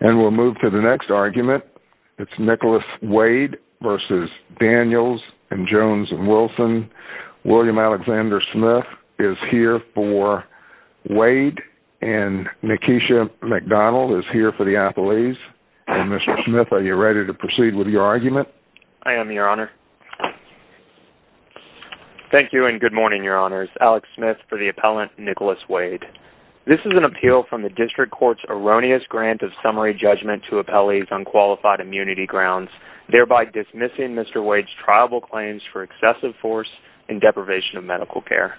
And we'll move to the next argument, it's Nicholas Wade v. Daniels and Jones and Wilson. William Alexander Smith is here for Wade, and Nakeisha McDonald is here for the athletes. And Mr. Smith, are you ready to proceed with your argument? I am, Your Honor. Thank you and good morning, Your Honors. Alex Smith for the appellant, Nicholas Wade. This is an appeal from the district court's erroneous grant of summary judgment to appellees on qualified immunity grounds, thereby dismissing Mr. Wade's triable claims for excessive force and deprivation of medical care.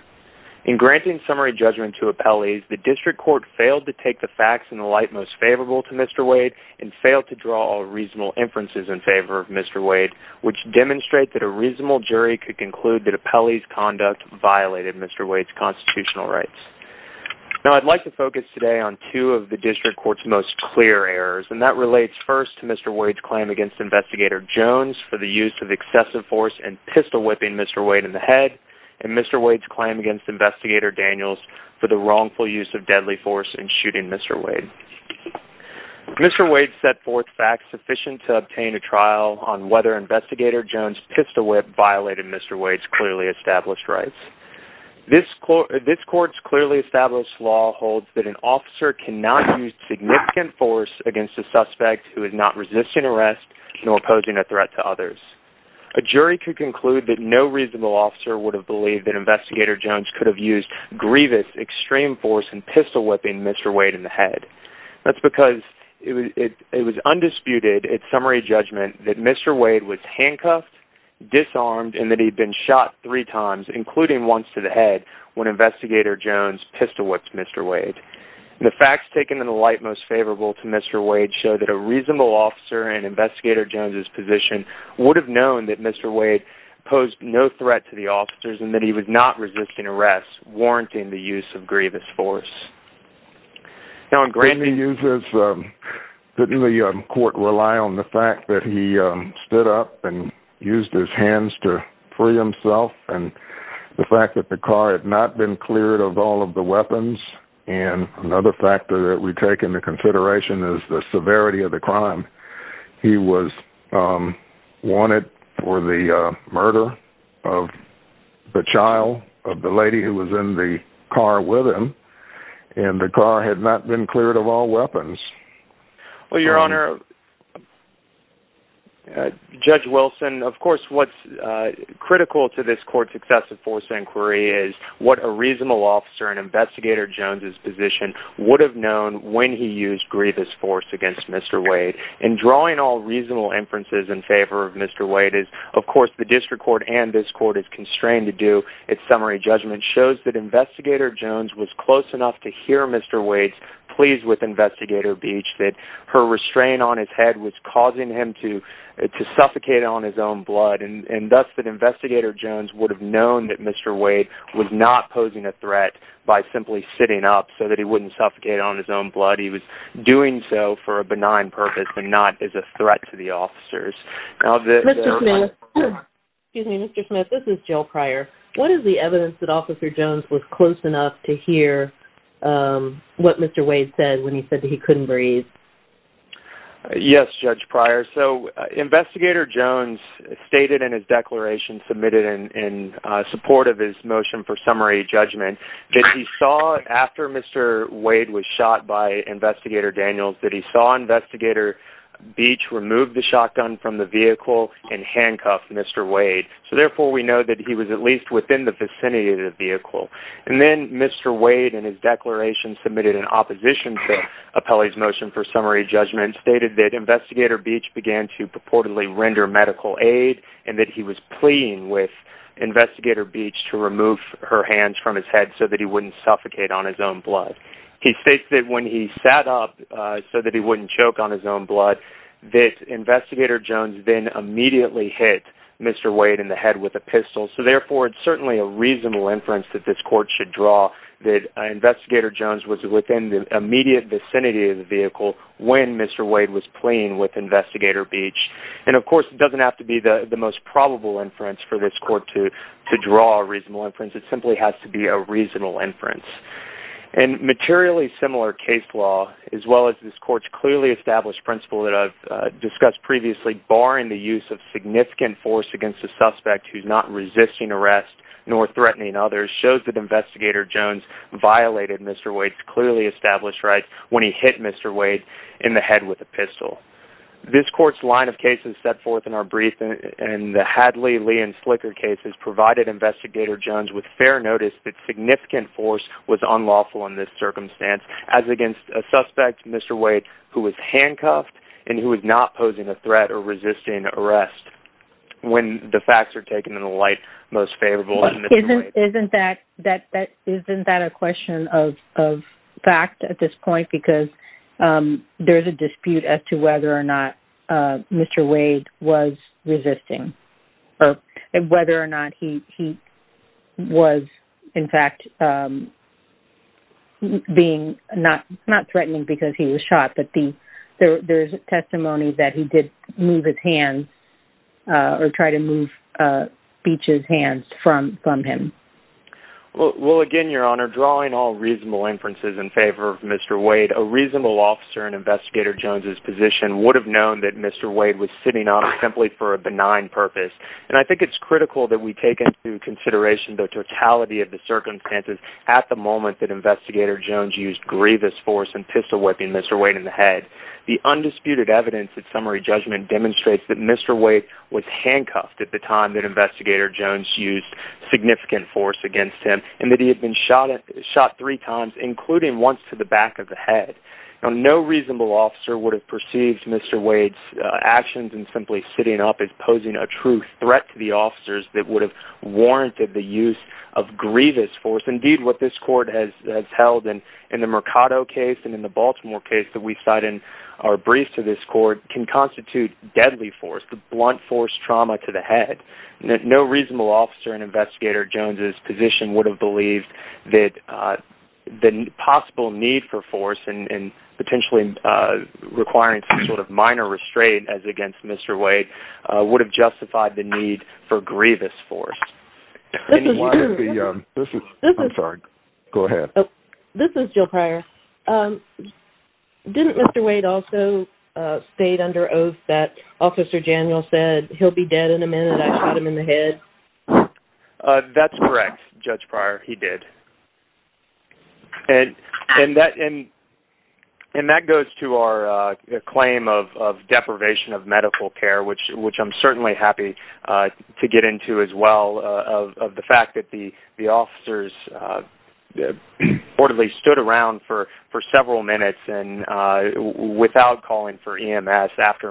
In granting summary judgment to appellees, the district court failed to take the facts in the light most favorable to Mr. Wade and failed to draw all reasonable inferences in favor of Mr. Wade, which demonstrate that a reasonable jury could conclude that appellee's conduct violated Mr. Wade's constitutional rights. Now, I'd like to focus today on two of the district court's most clear errors, and that relates first to Mr. Wade's claim against Investigator Jones for the use of excessive force and pistol whipping Mr. Wade in the head, and Mr. Wade's claim against Investigator Daniels for the wrongful use of deadly force in shooting Mr. Wade. Mr. Wade set forth facts sufficient to obtain a trial on whether Investigator Jones' pistol whip violated Mr. Wade's clearly established rights. This court's clearly established law holds that an officer cannot use significant force against a suspect who is not resisting arrest nor posing a threat to others. A jury could conclude that no reasonable officer would have believed that Investigator Jones could have used grievous extreme force and pistol whipping Mr. Wade in the head. That's because it was undisputed at summary judgment that Mr. Wade was handcuffed, disarmed, and that he'd been shot three times, including once to the head, when Investigator Jones pistol whipped Mr. Wade. The facts taken in the light most favorable to Mr. Wade show that a reasonable officer in Investigator Jones' position would have known that Mr. Wade posed no threat to the officers and that he was not resisting arrest, warranting the use of grievous force. Now, in grand jury cases, didn't the court rely on the fact that he stood up and used his hands to free himself and the fact that the car had not been cleared of all of the weapons? And another factor that we take into consideration is the severity of the crime. He was wanted for the murder of the child of the lady who was in the car with him, and the car had not been cleared of all weapons. Well, Your Honor, Judge Wilson, of course, what's critical to this court's excessive force inquiry is what a reasonable officer in Investigator Jones' position would have known when he used grievous force against Mr. Wade. In drawing all reasonable inferences in favor of Mr. Wade is, of course, the district court and this court is constrained to do at summary judgment shows that Investigator Jones was close enough to hear Mr. Wade's pleas with Investigator Beach that her restraint on his head was causing him to suffocate on his own blood, and thus that Investigator Jones would have known that Mr. Wade was not posing a threat by simply sitting up so that he wouldn't suffocate on his own blood. He was doing so for a benign purpose and not as a threat to the officers. Excuse me, Mr. Smith, this is Jill Pryor. What is the evidence that Officer Jones was close enough to hear what Mr. Wade said when he said that he couldn't breathe? Yes, Judge Pryor. So Investigator Jones stated in his declaration submitted in support of his motion for summary judgment that he saw after Mr. Wade was shot by Investigator Daniels that he saw Investigator Beach remove the shotgun from the vehicle and handcuff Mr. Wade. So therefore, we know that he was at least within the vicinity of the vehicle. And then Mr. Wade in his declaration submitted in opposition to Apelli's motion for summary judgment stated that Investigator Beach began to purportedly render medical aid and that he was pleading with Investigator Beach to remove her hands from his head so that he wouldn't suffocate on his own blood. He stated that when he sat up so that he wouldn't choke on his own blood that Investigator Jones then immediately hit Mr. Wade in the head with a pistol. So therefore, it's certainly a reasonable inference that this court should draw that Investigator Jones was within the immediate vicinity of the vehicle when Mr. Wade was playing with Investigator Beach. And of course, it doesn't have to be the most probable inference for this court to draw a reasonable inference. It simply has to be a reasonable inference. And materially similar case law, as well as this court's clearly established principle that I've discussed previously, barring the use of significant force against a suspect who's not resisting arrest nor threatening others shows that Investigator Jones violated Mr. Wade's clearly established rights when he hit Mr. Wade in the head with a pistol. This court's line of cases set forth in our brief and the Hadley, Lee, and Slicker cases provided Investigator Jones with fair notice that significant force was unlawful in this circumstance as against a suspect, Mr. Wade, who was handcuffed and who was not posing a threat or resisting arrest when the facts are taken in the light most favorable. Isn't that a question of fact at this point? Because there's a dispute as to whether or not Mr. Wade was resisting or whether or not he was, in fact, not threatening because he was shot. But there's testimony that he did move his hands or try to move Beech's hands from him. Well, again, Your Honor, drawing all reasonable inferences in favor of Mr. Wade, a reasonable officer in Investigator Jones's position would have known that Mr. Wade was sitting on him simply for a benign purpose. And I think it's critical that we take into consideration the totality of the circumstances at the moment that Investigator Jones used grievous force and whipping Mr. Wade in the head. The undisputed evidence at summary judgment demonstrates that Mr. Wade was handcuffed at the time that Investigator Jones used significant force against him and that he had been shot three times, including once to the back of the head. Now, no reasonable officer would have perceived Mr. Wade's actions and simply sitting up as posing a true threat to the officers that would have warranted the use of grievous force. Indeed, what this court has held in the Mercado case and in the Baltimore case that we cite in our brief to this court can constitute deadly force, the blunt force trauma to the head. No reasonable officer in Investigator Jones's position would have believed that the possible need for force and potentially requiring some sort of minor restraint as against Mr. Wade would have justified the need for grievous force. This is Jill Pryor. Didn't Mr. Wade also state under oath that Officer Daniel said, he'll be dead in a minute, I shot him in the head? That's correct, Judge Pryor, he did. And that goes to our claim of deprivation of medical care, which I'm certainly happy to get into as well, of the fact that the officers reportedly stood around for several minutes without calling for EMS after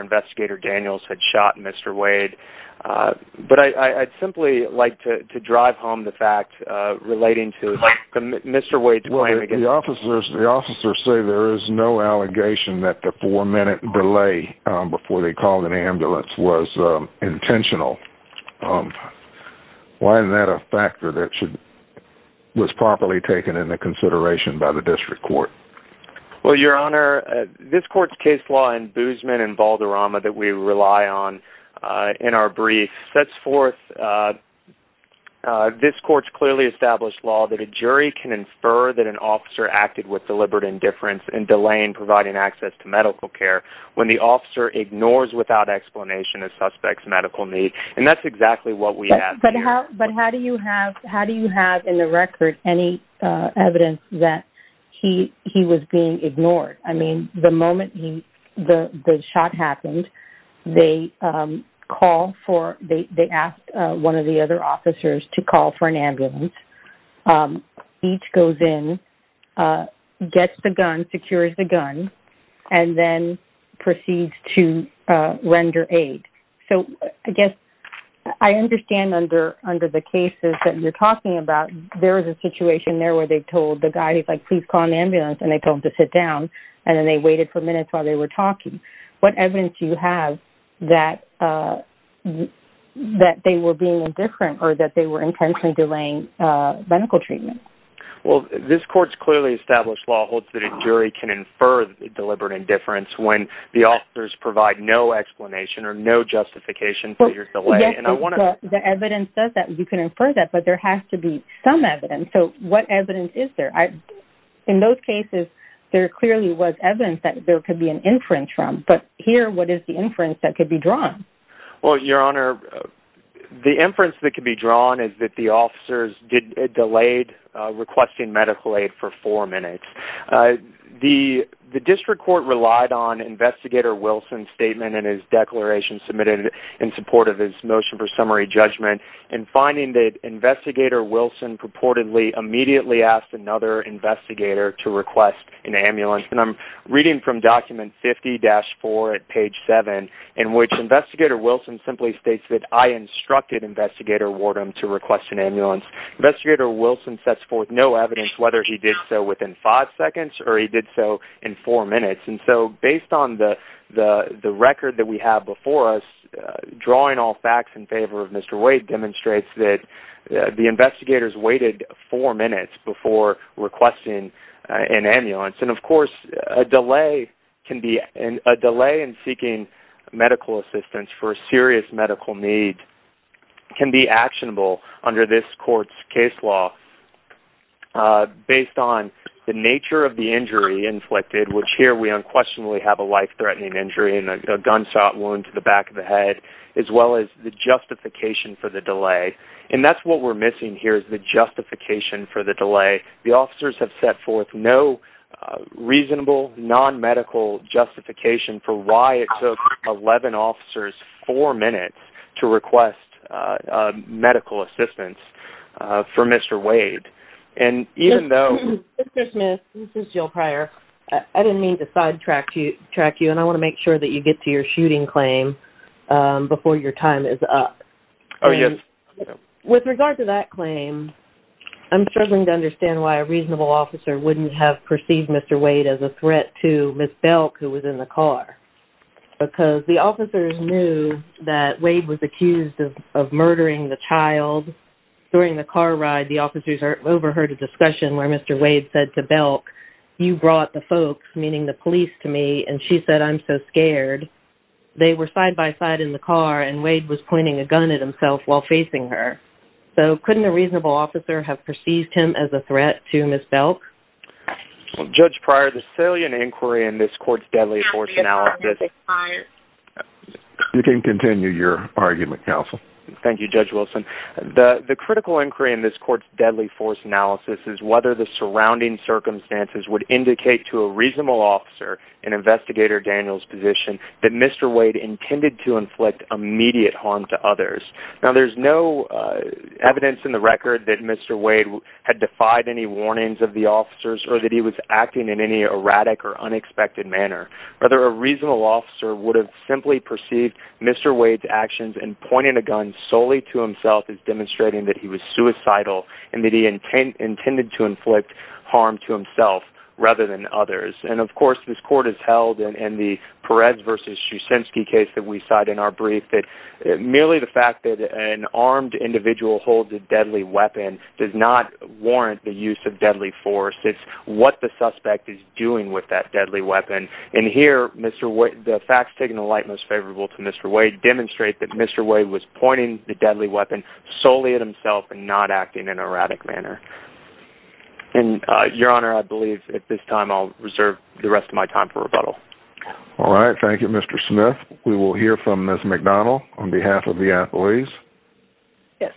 Investigator Daniels had shot Mr. Wade. But I'd simply like to drive home the fact relating to Mr. Wade's allegation that the four minute delay before they called an ambulance was intentional. Why isn't that a factor that was properly taken into consideration by the District Court? Well, Your Honor, this court's case law in Boozman and Valderrama that we rely on in our brief sets forth this court's clearly established law that a jury can infer that an officer acted with deliberate indifference in delaying providing access to medical care when the officer ignores without explanation a suspect's medical need. And that's exactly what we have here. But how do you have in the record any evidence that he was being ignored? I mean, the moment the shot happened, they asked one of the other officers to call for an ambulance. Um, each goes in, uh, gets the gun, secures the gun, and then proceeds to, uh, render aid. So I guess I understand under, under the cases that you're talking about, there was a situation there where they told the guy, he's like, please call an ambulance. And they told him to sit down. And then they waited for minutes while they were talking. What evidence do you have that, uh, that they were being indifferent or that they were intentionally delaying, uh, medical treatment? Well, this court's clearly established law holds that a jury can infer deliberate indifference when the officers provide no explanation or no justification for your delay. And I want to- The evidence says that you can infer that, but there has to be some evidence. So what evidence is there? I, in those cases, there clearly was evidence that there could be an inference from, but here, what is the inference that could be drawn? Well, Your Honor, the inference that could be drawn is that the officers did, uh, delayed, uh, requesting medical aid for four minutes. Uh, the, the district court relied on Investigator Wilson's statement and his declaration submitted in support of his motion for summary judgment and finding that Investigator Wilson purportedly immediately asked another investigator to request an ambulance. And I'm reading from document 50-4 at page 7, in which Investigator Wilson simply states that, I instructed Investigator Wardham to request an ambulance. Investigator Wilson sets forth no evidence whether he did so within five seconds or he did so in four minutes. And so, based on the, the, the record that we have before us, uh, drawing all facts in favor of Mr. Wade demonstrates that, uh, the investigators waited four minutes before requesting, uh, an ambulance. And of course, a delay can be, and a delay in seeking medical assistance for a serious medical need can be actionable under this court's case law, uh, based on the nature of the injury inflicted, which here we unquestionably have a life-threatening injury and a gunshot wound to back of the head, as well as the justification for the delay. And that's what we're missing here, is the justification for the delay. The officers have set forth no, uh, reasonable non-medical justification for why it took 11 officers four minutes to request, uh, uh, medical assistance, uh, for Mr. Wade. And even though... Ms. Smith, this is Jill Pryor. I didn't mean to sidetrack you, track you, and I want to make sure that you get to your shooting claim, um, before your time is up. Oh, yes. With regard to that claim, I'm struggling to understand why a reasonable officer wouldn't have perceived Mr. Wade as a threat to Ms. Belk, who was in the car, because the officers knew that Wade was accused of murdering the child. During the car ride, the officers overheard a discussion where Mr. Wade said to Belk, you brought the folks, meaning the police, to me, and she said, I'm so scared. They were side-by-side in the car, and Wade was pointing a gun at himself while facing her. So, couldn't a reasonable officer have perceived him as a threat to Ms. Belk? Well, Judge Pryor, the salient inquiry in this court's deadly force analysis... You can continue your argument, counsel. Thank you, Judge Wilson. The critical inquiry in this court's deadly force analysis is whether the surrounding circumstances would indicate to a reasonable officer in Investigator Daniel's position that Mr. Wade intended to inflict immediate harm to others. Now, there's no evidence in the record that Mr. Wade had defied any warnings of the officers or that he was acting in any erratic or unexpected manner. Whether a reasonable officer would have simply perceived Mr. Wade's actions in pointing a gun solely to himself is demonstrating that he was suicidal and that he intended to inflict harm to himself rather than others. And, of course, this court has held in the Perez v. Shusinski case that we cite in our brief that merely the fact that an armed individual holds a deadly weapon does not warrant the use of deadly force. It's what the suspect is doing with that deadly weapon. And here, the facts taking the light most favorable to Mr. Wade demonstrate that Mr. Wade was pointing the deadly weapon solely at himself and not acting in an erratic manner. And, Your Honor, I believe at this time I'll reserve the rest of my time for rebuttal. All right. Thank you, Mr. Smith. We will hear from Ms. McDonald on behalf of the athletes. Yes.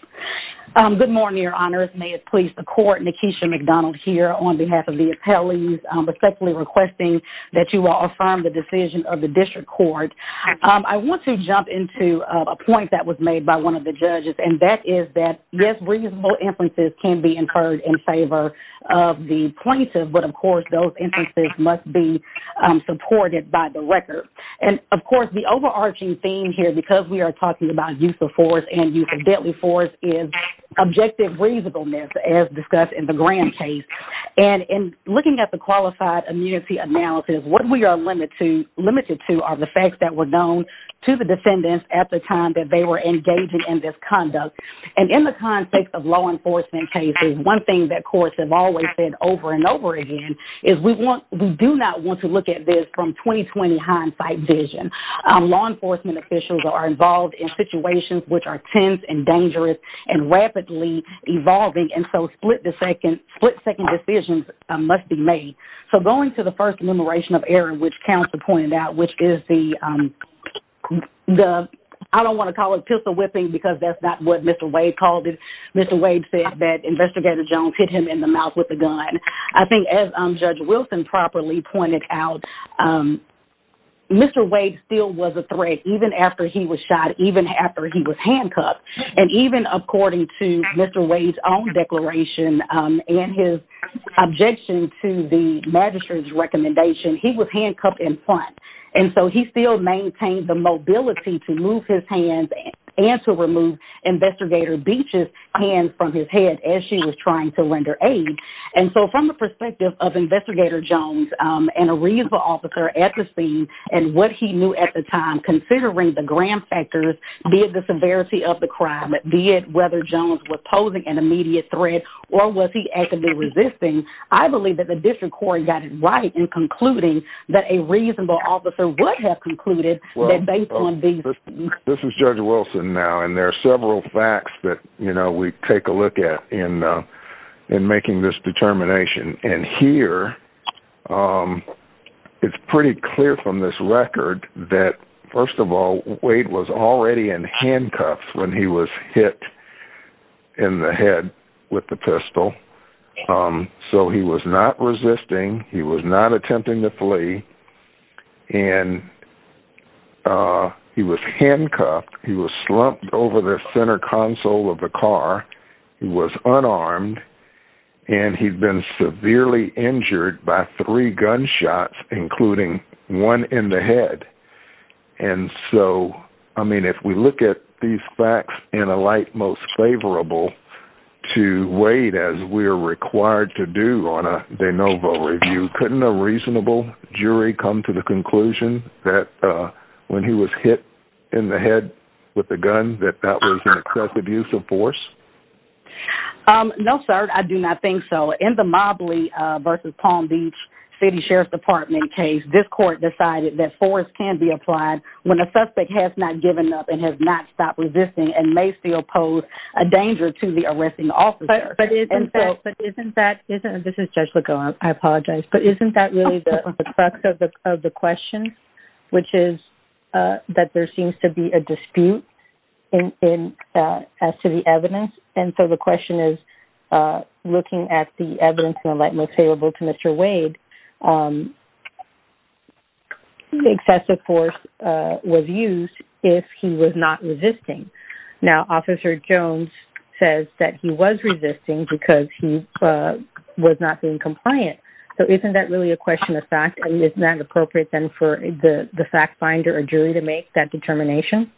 Good morning, Your Honors. May it please the court, Nakeisha McDonald here on behalf of the athletes respectfully requesting that you will affirm the decision of the District Court. I want to jump into a point that was made by one of the judges and that is that, yes, reasonable inferences can be incurred in favor of the plaintiff, but, of course, those inferences must be supported by the record. And, of course, the overarching theme here because we are talking about use of force and use of deadly force is objective reasonableness as discussed in the Graham case. And in looking at the qualified immunity analysis, what we are limited to are the facts that were known to the defendants at the time that they were engaging in conduct. And in the context of law enforcement cases, one thing that courts have always said over and over again is we do not want to look at this from 20-20 hindsight vision. Law enforcement officials are involved in situations which are tense and dangerous and rapidly evolving. And so split-second decisions must be made. So going to the first enumeration of error which counsel pointed out, which is the, I don't want to call it pistol whipping because that's not what Mr. Wade called it. Mr. Wade said that Investigator Jones hit him in the mouth with a gun. I think as Judge Wilson properly pointed out, Mr. Wade still was a threat even after he was shot, even after he was handcuffed. And even according to Mr. Wade's own declaration and his objection to the magistrate's recommendation, he was handcuffed in front. And so he still maintained the mobility to move his hands and to remove Investigator Beach's hands from his head as she was trying to render aid. And so from the perspective of Investigator Jones and a reasonable officer at the scene and what he knew at the time, considering the grand factors, be it the severity of the crime, be it whether Jones was posing an immediate threat or was he actively resisting, I believe that the district court got it right in concluding that a reasonable officer would have concluded that they couldn't be. This is Judge Wilson now and there are several facts that, you know, we take a look at in making this determination. And here it's pretty clear from this record that, first of all, Wade was already in handcuffs when he was hit in the head with the pistol. So he was not resisting. He was not attempting to flee. And he was handcuffed. He was slumped over the center console of the car. He was unarmed. And he'd been severely injured by three gunshots, including one in the head. And so, I mean, we look at these facts in a light most favorable to Wade as we are required to do on a de novo review. Couldn't a reasonable jury come to the conclusion that when he was hit in the head with a gun that that was an excessive use of force? No, sir, I do not think so. In the Mobley versus Palm Beach City Sheriff's Department case, this court decided that force can be applied when a suspect has not given up and has not stopped resisting and may still pose a danger to the arresting officer. But isn't that, this is Judge Lego, I apologize, but isn't that really the crux of the question? Which is that there seems to be a dispute as to the evidence. And so the question is looking at the evidence in a light most favorable to Mr. Wade, the excessive force was used if he was not resisting. Now, Officer Jones says that he was resisting because he was not being compliant. So isn't that really a question of fact? And isn't that appropriate then for the fact finder or jury to make that determination?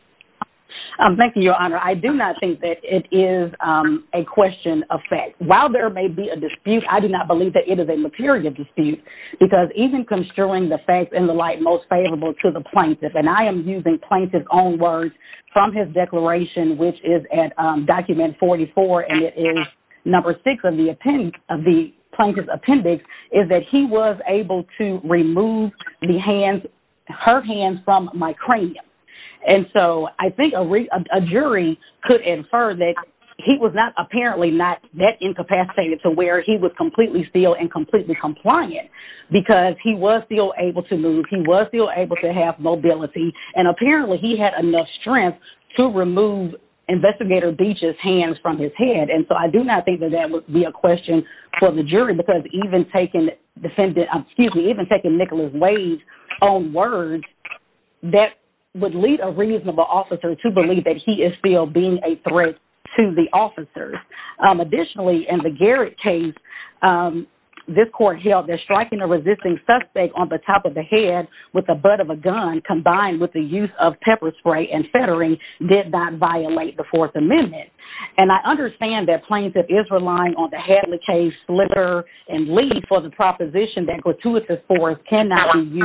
Thank you, Your Honor. I do not think that it is a question of fact. While there may be a dispute, I do not believe that it is a material dispute. Because even construing the facts in the light most favorable to the plaintiff, and I am using plaintiff's own words from his declaration, which is at document 44, and it is number six of the plaintiff's appendix, is that he was able to remove the hands, her hands from my cranium. And so I think a jury could infer that he was not that incapacitated to where he was completely still and completely compliant. Because he was still able to move. He was still able to have mobility. And apparently he had enough strength to remove Investigator Beach's hands from his head. And so I do not think that that would be a question for the jury. Because even taking defendant, excuse me, even taking Nicholas Wade's own words, that would lead a reasonable officer to believe that he is still a threat to the officers. Additionally, in the Garrett case, this court held that striking a resisting suspect on the top of the head with the butt of a gun combined with the use of pepper spray and feathering did not violate the Fourth Amendment. And I understand that plaintiff is relying on the Hadley case, Slitter, and Lee for the proposition that gratuitous force cannot be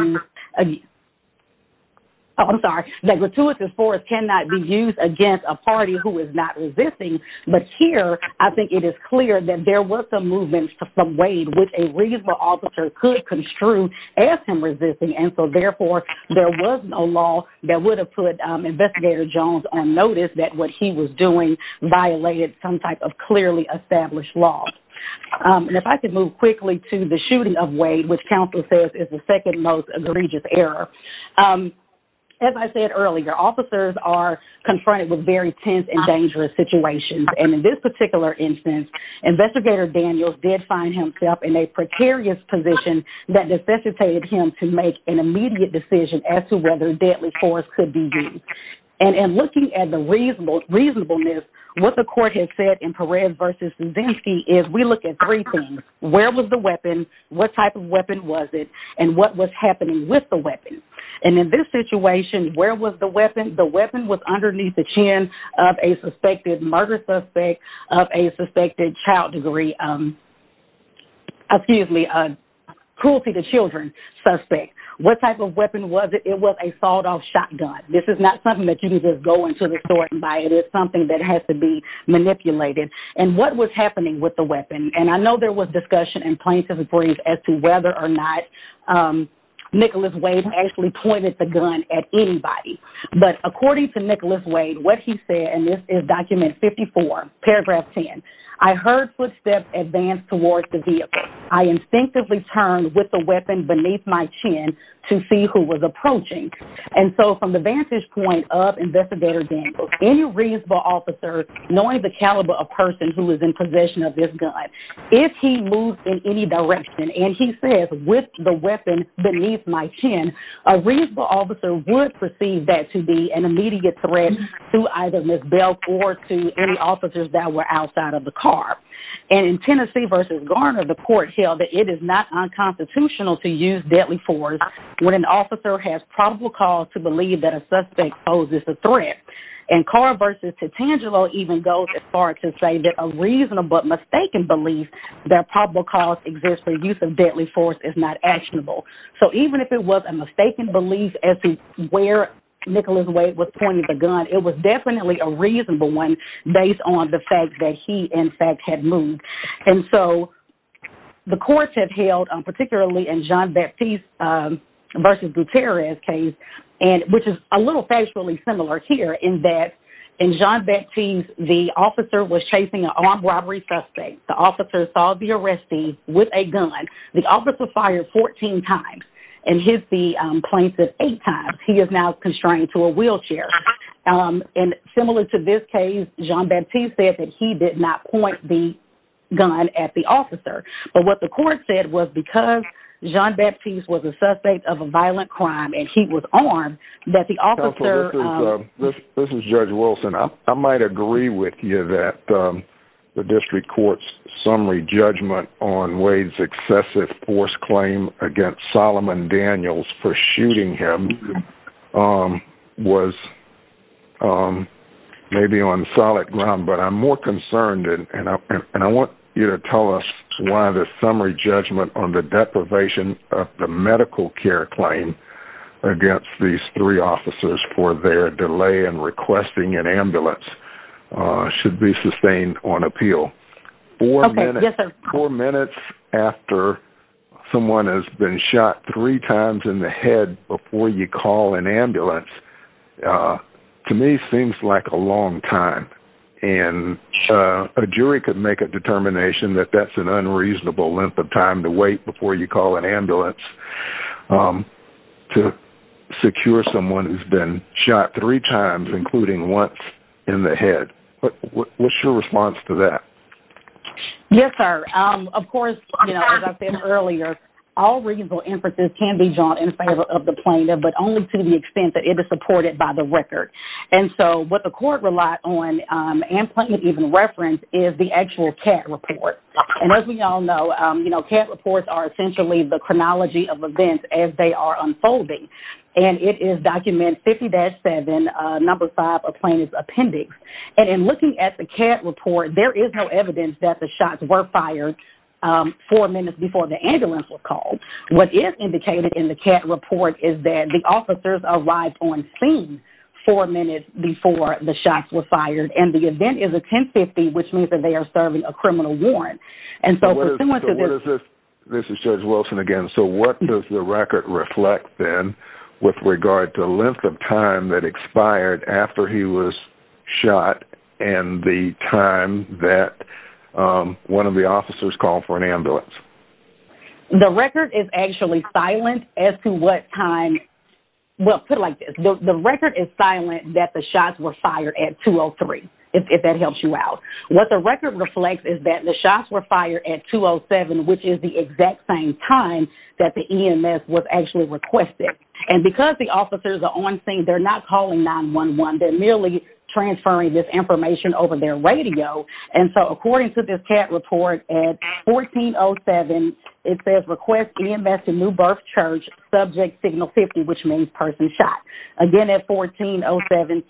used against a party who is not resisting. But here, I think it is clear that there were some movements from Wade, which a reasonable officer could construe as him resisting. And so therefore, there was no law that would have put Investigator Jones on notice that what he was doing violated some type of clearly established law. And if I could move quickly to the shooting of Wade, which counsel says is the second most egregious error. As I said earlier, officers are confronted with very tense and dangerous situations. And in this particular instance, Investigator Daniels did find himself in a precarious position that necessitated him to make an immediate decision as to whether deadly force could be used. And looking at the reasonableness, what the court has said in Perez v. Zudinsky is we look at three things. Where was the weapon? What type of weapon was it? And what was happening with the weapon? And in this situation, where was the weapon? The weapon was underneath the chin of a suspected murder suspect of a suspected child degree, excuse me, a cruelty to children suspect. What type of weapon was it? It was a sawed-off shotgun. This is not something that you can just go into the store and buy. It is something that has to be manipulated. And what was happening with the weapon? And I know there was discussion in plaintiff's reportings as to whether or not Nicholas Wade actually pointed the gun at anybody. But according to Nicholas Wade, what he said, and this is document 54, paragraph 10, I heard footsteps advance towards the vehicle. I instinctively turned with the weapon beneath my chin to see who was approaching. And so from the vantage point of Investigator Daniels, any reasonable officer, knowing the caliber of person who is in possession of this gun, if he moves in any direction and he says with the weapon beneath my chin, a reasonable officer would perceive that to be an immediate threat to either Ms. Belk or to any officers that were outside of the car. And in Tennessee versus Garner, the court held that it is not unconstitutional to use deadly force when an officer has probable cause to believe that a suspect poses a threat. And Carr versus Titangelo even goes as far to say that a reasonable mistaken belief that probable cause exists for use of deadly force is not actionable. So even if it was a mistaken belief as to where Nicholas Wade was pointing the gun, it was definitely a reasonable one based on the fact that he, in fact, had moved. And so the courts have held, particularly in Jean-Baptiste versus Gutierrez case, which is a little factually similar here in that in Jean-Baptiste, the officer was chasing an armed robbery suspect. The officer saw the arrestee with a gun. The officer fired 14 times and hit the plaintiff eight times. He is now constrained to a wheelchair. And similar to this case, Jean-Baptiste said that he did not point the gun at the officer. But what the court said was because Jean-Baptiste was a suspect of a violent crime and he was that the officer. This is Judge Wilson. I might agree with you that the district court's summary judgment on Wade's excessive force claim against Solomon Daniels for shooting him was maybe on solid ground, but I'm more concerned. And I want you to tell us why the summary judgment on the deprivation of the medical care claim against these three officers for their delay in requesting an ambulance should be sustained on appeal. Four minutes after someone has been shot three times in the head before you call an ambulance to me seems like a long time. And a jury could make a determination that that's an unreasonable length of time to wait before you call an ambulance to secure someone who's been shot three times, including once in the head. But what's your response to that? Yes, sir. Of course, as I said earlier, all reasonable inferences can be drawn in favor of the plaintiff, but only to the extent that it is supported by the record. And so what the court relied on and plainly even referenced is the actual cat report. And as we all know, cat reports are essentially the chronology of events as they are unfolding. And it is document 50-7, number five, a plaintiff's appendix. And in looking at the cat report, there is no evidence that the shots were fired four minutes before the ambulance was is that the officers arrived on scene four minutes before the shots were fired. And the event is a 1050, which means that they are serving a criminal warrant. And so this is Judge Wilson again. So what does the record reflect then with regard to the length of time that expired after he was shot and the time that one of the officers called for an ambulance? The record is actually silent as to what time. Well, put it like this. The record is silent that the shots were fired at 2-0-3, if that helps you out. What the record reflects is that the shots were fired at 2-0-7, which is the exact same time that the EMS was actually requested. And because the officers are on scene, they're not calling 911. They're merely transferring this information over their radio. And so according to this cat report, at 14-0-7, it says request EMS to New Birth Church, subject signal 50, which means person shot. Again, at 14-0-7,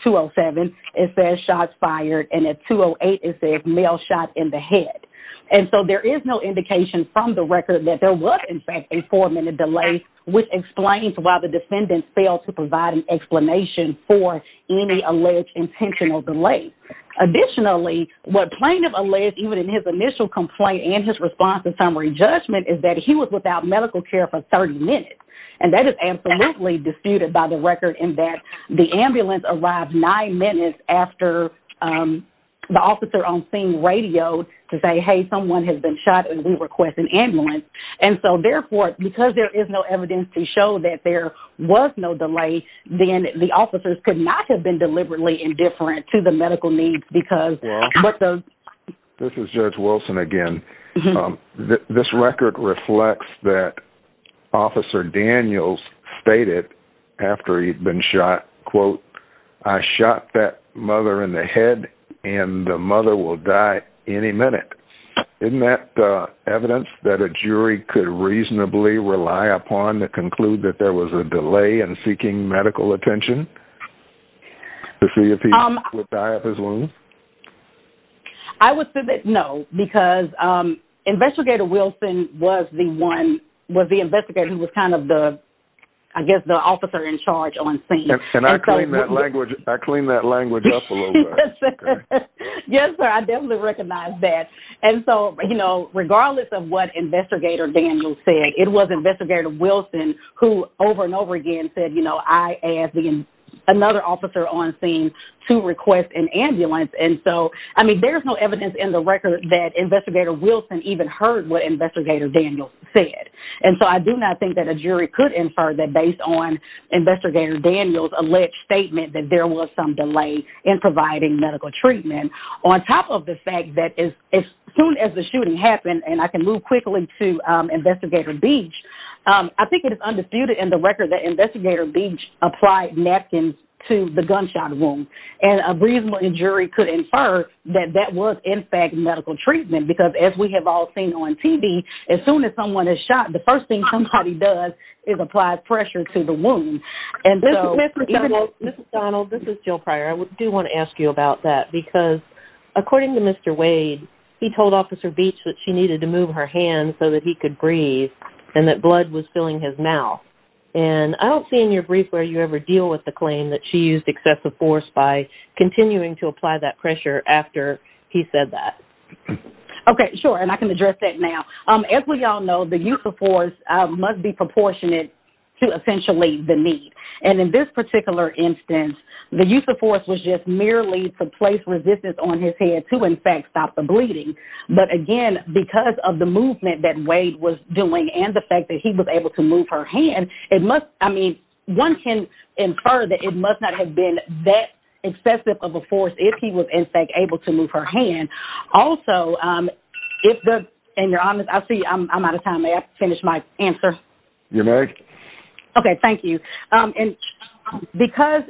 2-0-7, it says shots fired. And at 2-0-8, it says male shot in the head. And so there is no indication from the record that there was, in fact, a four-minute delay, which explains why the defendant failed to provide an explanation for any alleged intentional delay. Additionally, what plaintiff alleged even in his initial complaint and his response and summary judgment is that he was without medical care for 30 minutes. And that is absolutely disputed by the record in that the ambulance arrived nine minutes after the officer on scene radioed to say, hey, someone has been shot and we request an ambulance. And so therefore, because there is no evidence to show that there was no delay, then the officers could not have been deliberately indifferent to the medical needs because... This is Judge Wilson again. This record reflects that Officer Daniels stated after he'd been shot, quote, I shot that mother in the head and the mother will die any minute. Isn't that evidence that a jury could reasonably rely upon to conclude that there was a delay in seeking medical attention to see if he would die of his wounds? I would say that no, because Investigator Wilson was the one, was the investigator who was kind of the, I guess, the officer in charge on scene. And I cleaned that language up a little bit. Yes, sir. I definitely recognize that. And so, regardless of what Investigator Daniels said, it was Investigator Wilson who over and over again said, I asked another officer on scene to request an ambulance. And so, I mean, there's no evidence in the record that Investigator Wilson even heard what Investigator Daniels said. And so I do not think that a jury could infer that based on Investigator Daniels' alleged statement that there was some delay in providing medical treatment. On top of the fact that as soon as the shooting happened, and I can move quickly to Investigator Beach, I think it is undisputed in the record that Investigator Beach applied napkins to the gunshot wound. And a reasonable jury could infer that that was in fact medical treatment because as we have all seen on TV, as soon as someone is shot, the first thing somebody does is apply pressure to the wound. And so... This is Mrs. Donald. This is Jill Pryor. I do want to ask you about that because according to Mr. Wade, he told Officer Beach that she needed to move her hand so that he could breathe and that blood was filling his mouth. And I don't see in your brief where you ever deal with the claim that she used excessive force by continuing to apply that pressure after he said that. Okay. Sure. And I can address that now. As we all know, the use of force must be proportionate to essentially the need. And in this particular instance, the use of force was just merely to place resistance on his head to in fact stop the bleeding. But again, because of the movement that Wade was doing and the fact that he was able to move her hand, it must... I mean, one can infer that it must not have been that excessive of a force if he was in fact able to move her hand. Okay. Thank you. And because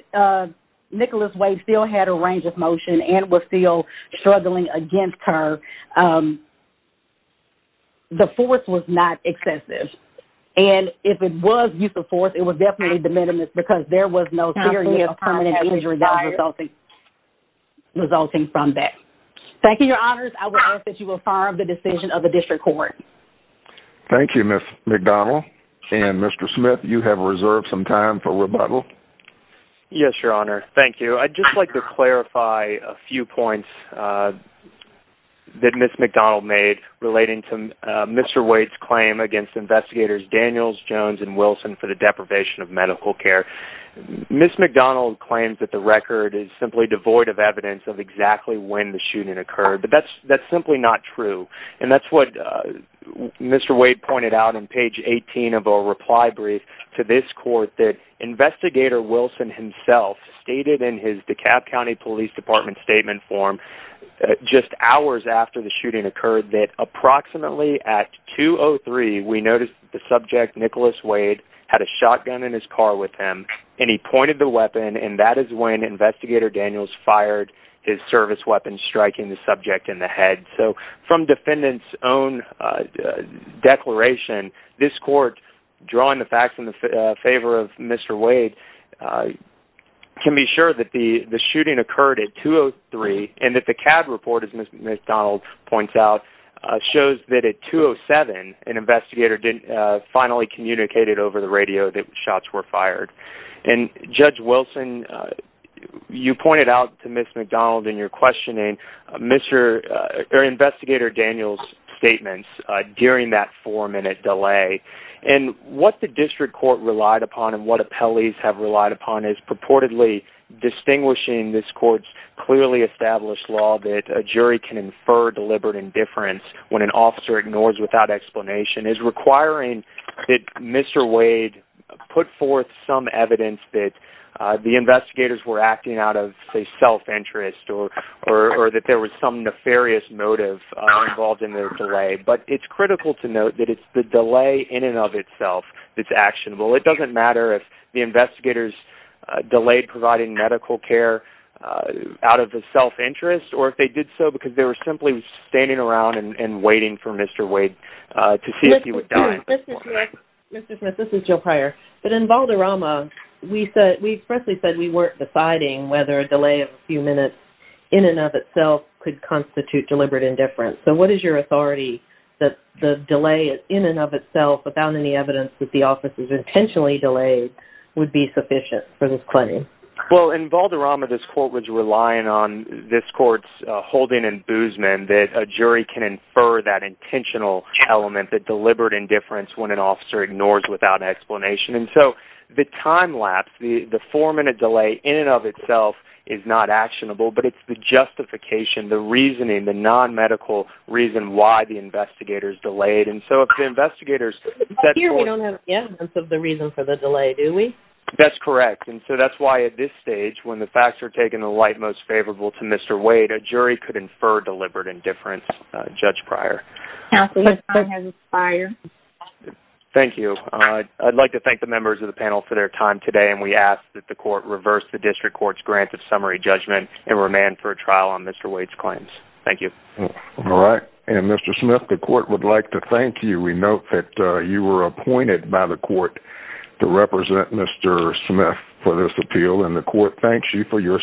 Nicholas Wade still had a range of motion and was still struggling against her, the force was not excessive. And if it was use of force, it was definitely de minimis because there was no period of permanent injury resulting from that. Thank you, Your Honors. I will ask that you affirm the decision of the District Court. Thank you, Ms. McDonald. And Mr. Smith, you have reserved some time for rebuttal. Yes, Your Honor. Thank you. I'd just like to clarify a few points that Ms. McDonald made relating to Mr. Wade's claim against investigators Daniels, Jones, and Wilson for the deprivation of medical care. Ms. McDonald claims that the record is simply devoid of evidence of exactly when the Mr. Wade pointed out on page 18 of a reply brief to this court that Investigator Wilson himself stated in his DeKalb County Police Department statement form just hours after the shooting occurred that approximately at 2.03, we noticed the subject, Nicholas Wade, had a shotgun in his car with him and he pointed the weapon and that is when Investigator Daniels fired his service weapon striking the subject in the head. So from defendant's own declaration, this court, drawing the facts in favor of Mr. Wade, can be sure that the shooting occurred at 2.03 and that the cab report, as Ms. McDonald points out, shows that at 2.07, an investigator finally communicated over the radio that shots were fired. And Judge Wilson, you pointed out to Ms. McDonald in your questioning, Investigator Daniels' statements during that four-minute delay and what the district court relied upon and what appellees have relied upon is purportedly distinguishing this court's clearly established law that a jury can infer deliberate indifference when an officer ignores without explanation is requiring that Mr. Wade put forth some evidence that the investigators were acting out of, say, self-interest or that there was some nefarious motive involved in the delay. But it's critical to note that it's the delay in and of itself that's actionable. It doesn't matter if the investigators delayed providing medical care out of the self-interest or if they did so because they were simply standing around and waiting for Mr. Wade to see if he would Mr. Smith, this is Jill Pryor. But in Valderrama, we said, we expressly said we weren't deciding whether a delay of a few minutes in and of itself could constitute deliberate indifference. So what is your authority that the delay in and of itself without any evidence that the officer's intentionally delayed would be sufficient for this claim? Well, in Valderrama, this court was relying on this court's holding and boozemen that a jury can infer that intentional element that deliberate indifference when an officer ignores without explanation. And so the time lapse, the four-minute delay in and of itself is not actionable, but it's the justification, the reasoning, the non-medical reason why the investigators delayed. And so if the investigators... Here we don't have the evidence of the reason for the delay, do we? That's correct. And so that's why at this stage, when the facts are taken the light most favorable to Mr. Wade, a jury could infer deliberate indifference, Judge Pryor. Thank you. I'd like to thank the members of the panel for their time today. And we ask that the court reverse the district court's grant of summary judgment and remand for a trial on Mr. Wade's claims. Thank you. All right. And Mr. Smith, the court would like to thank you. We note that you were appointed by the court to represent Mr. Smith for this appeal and the court thanks you for your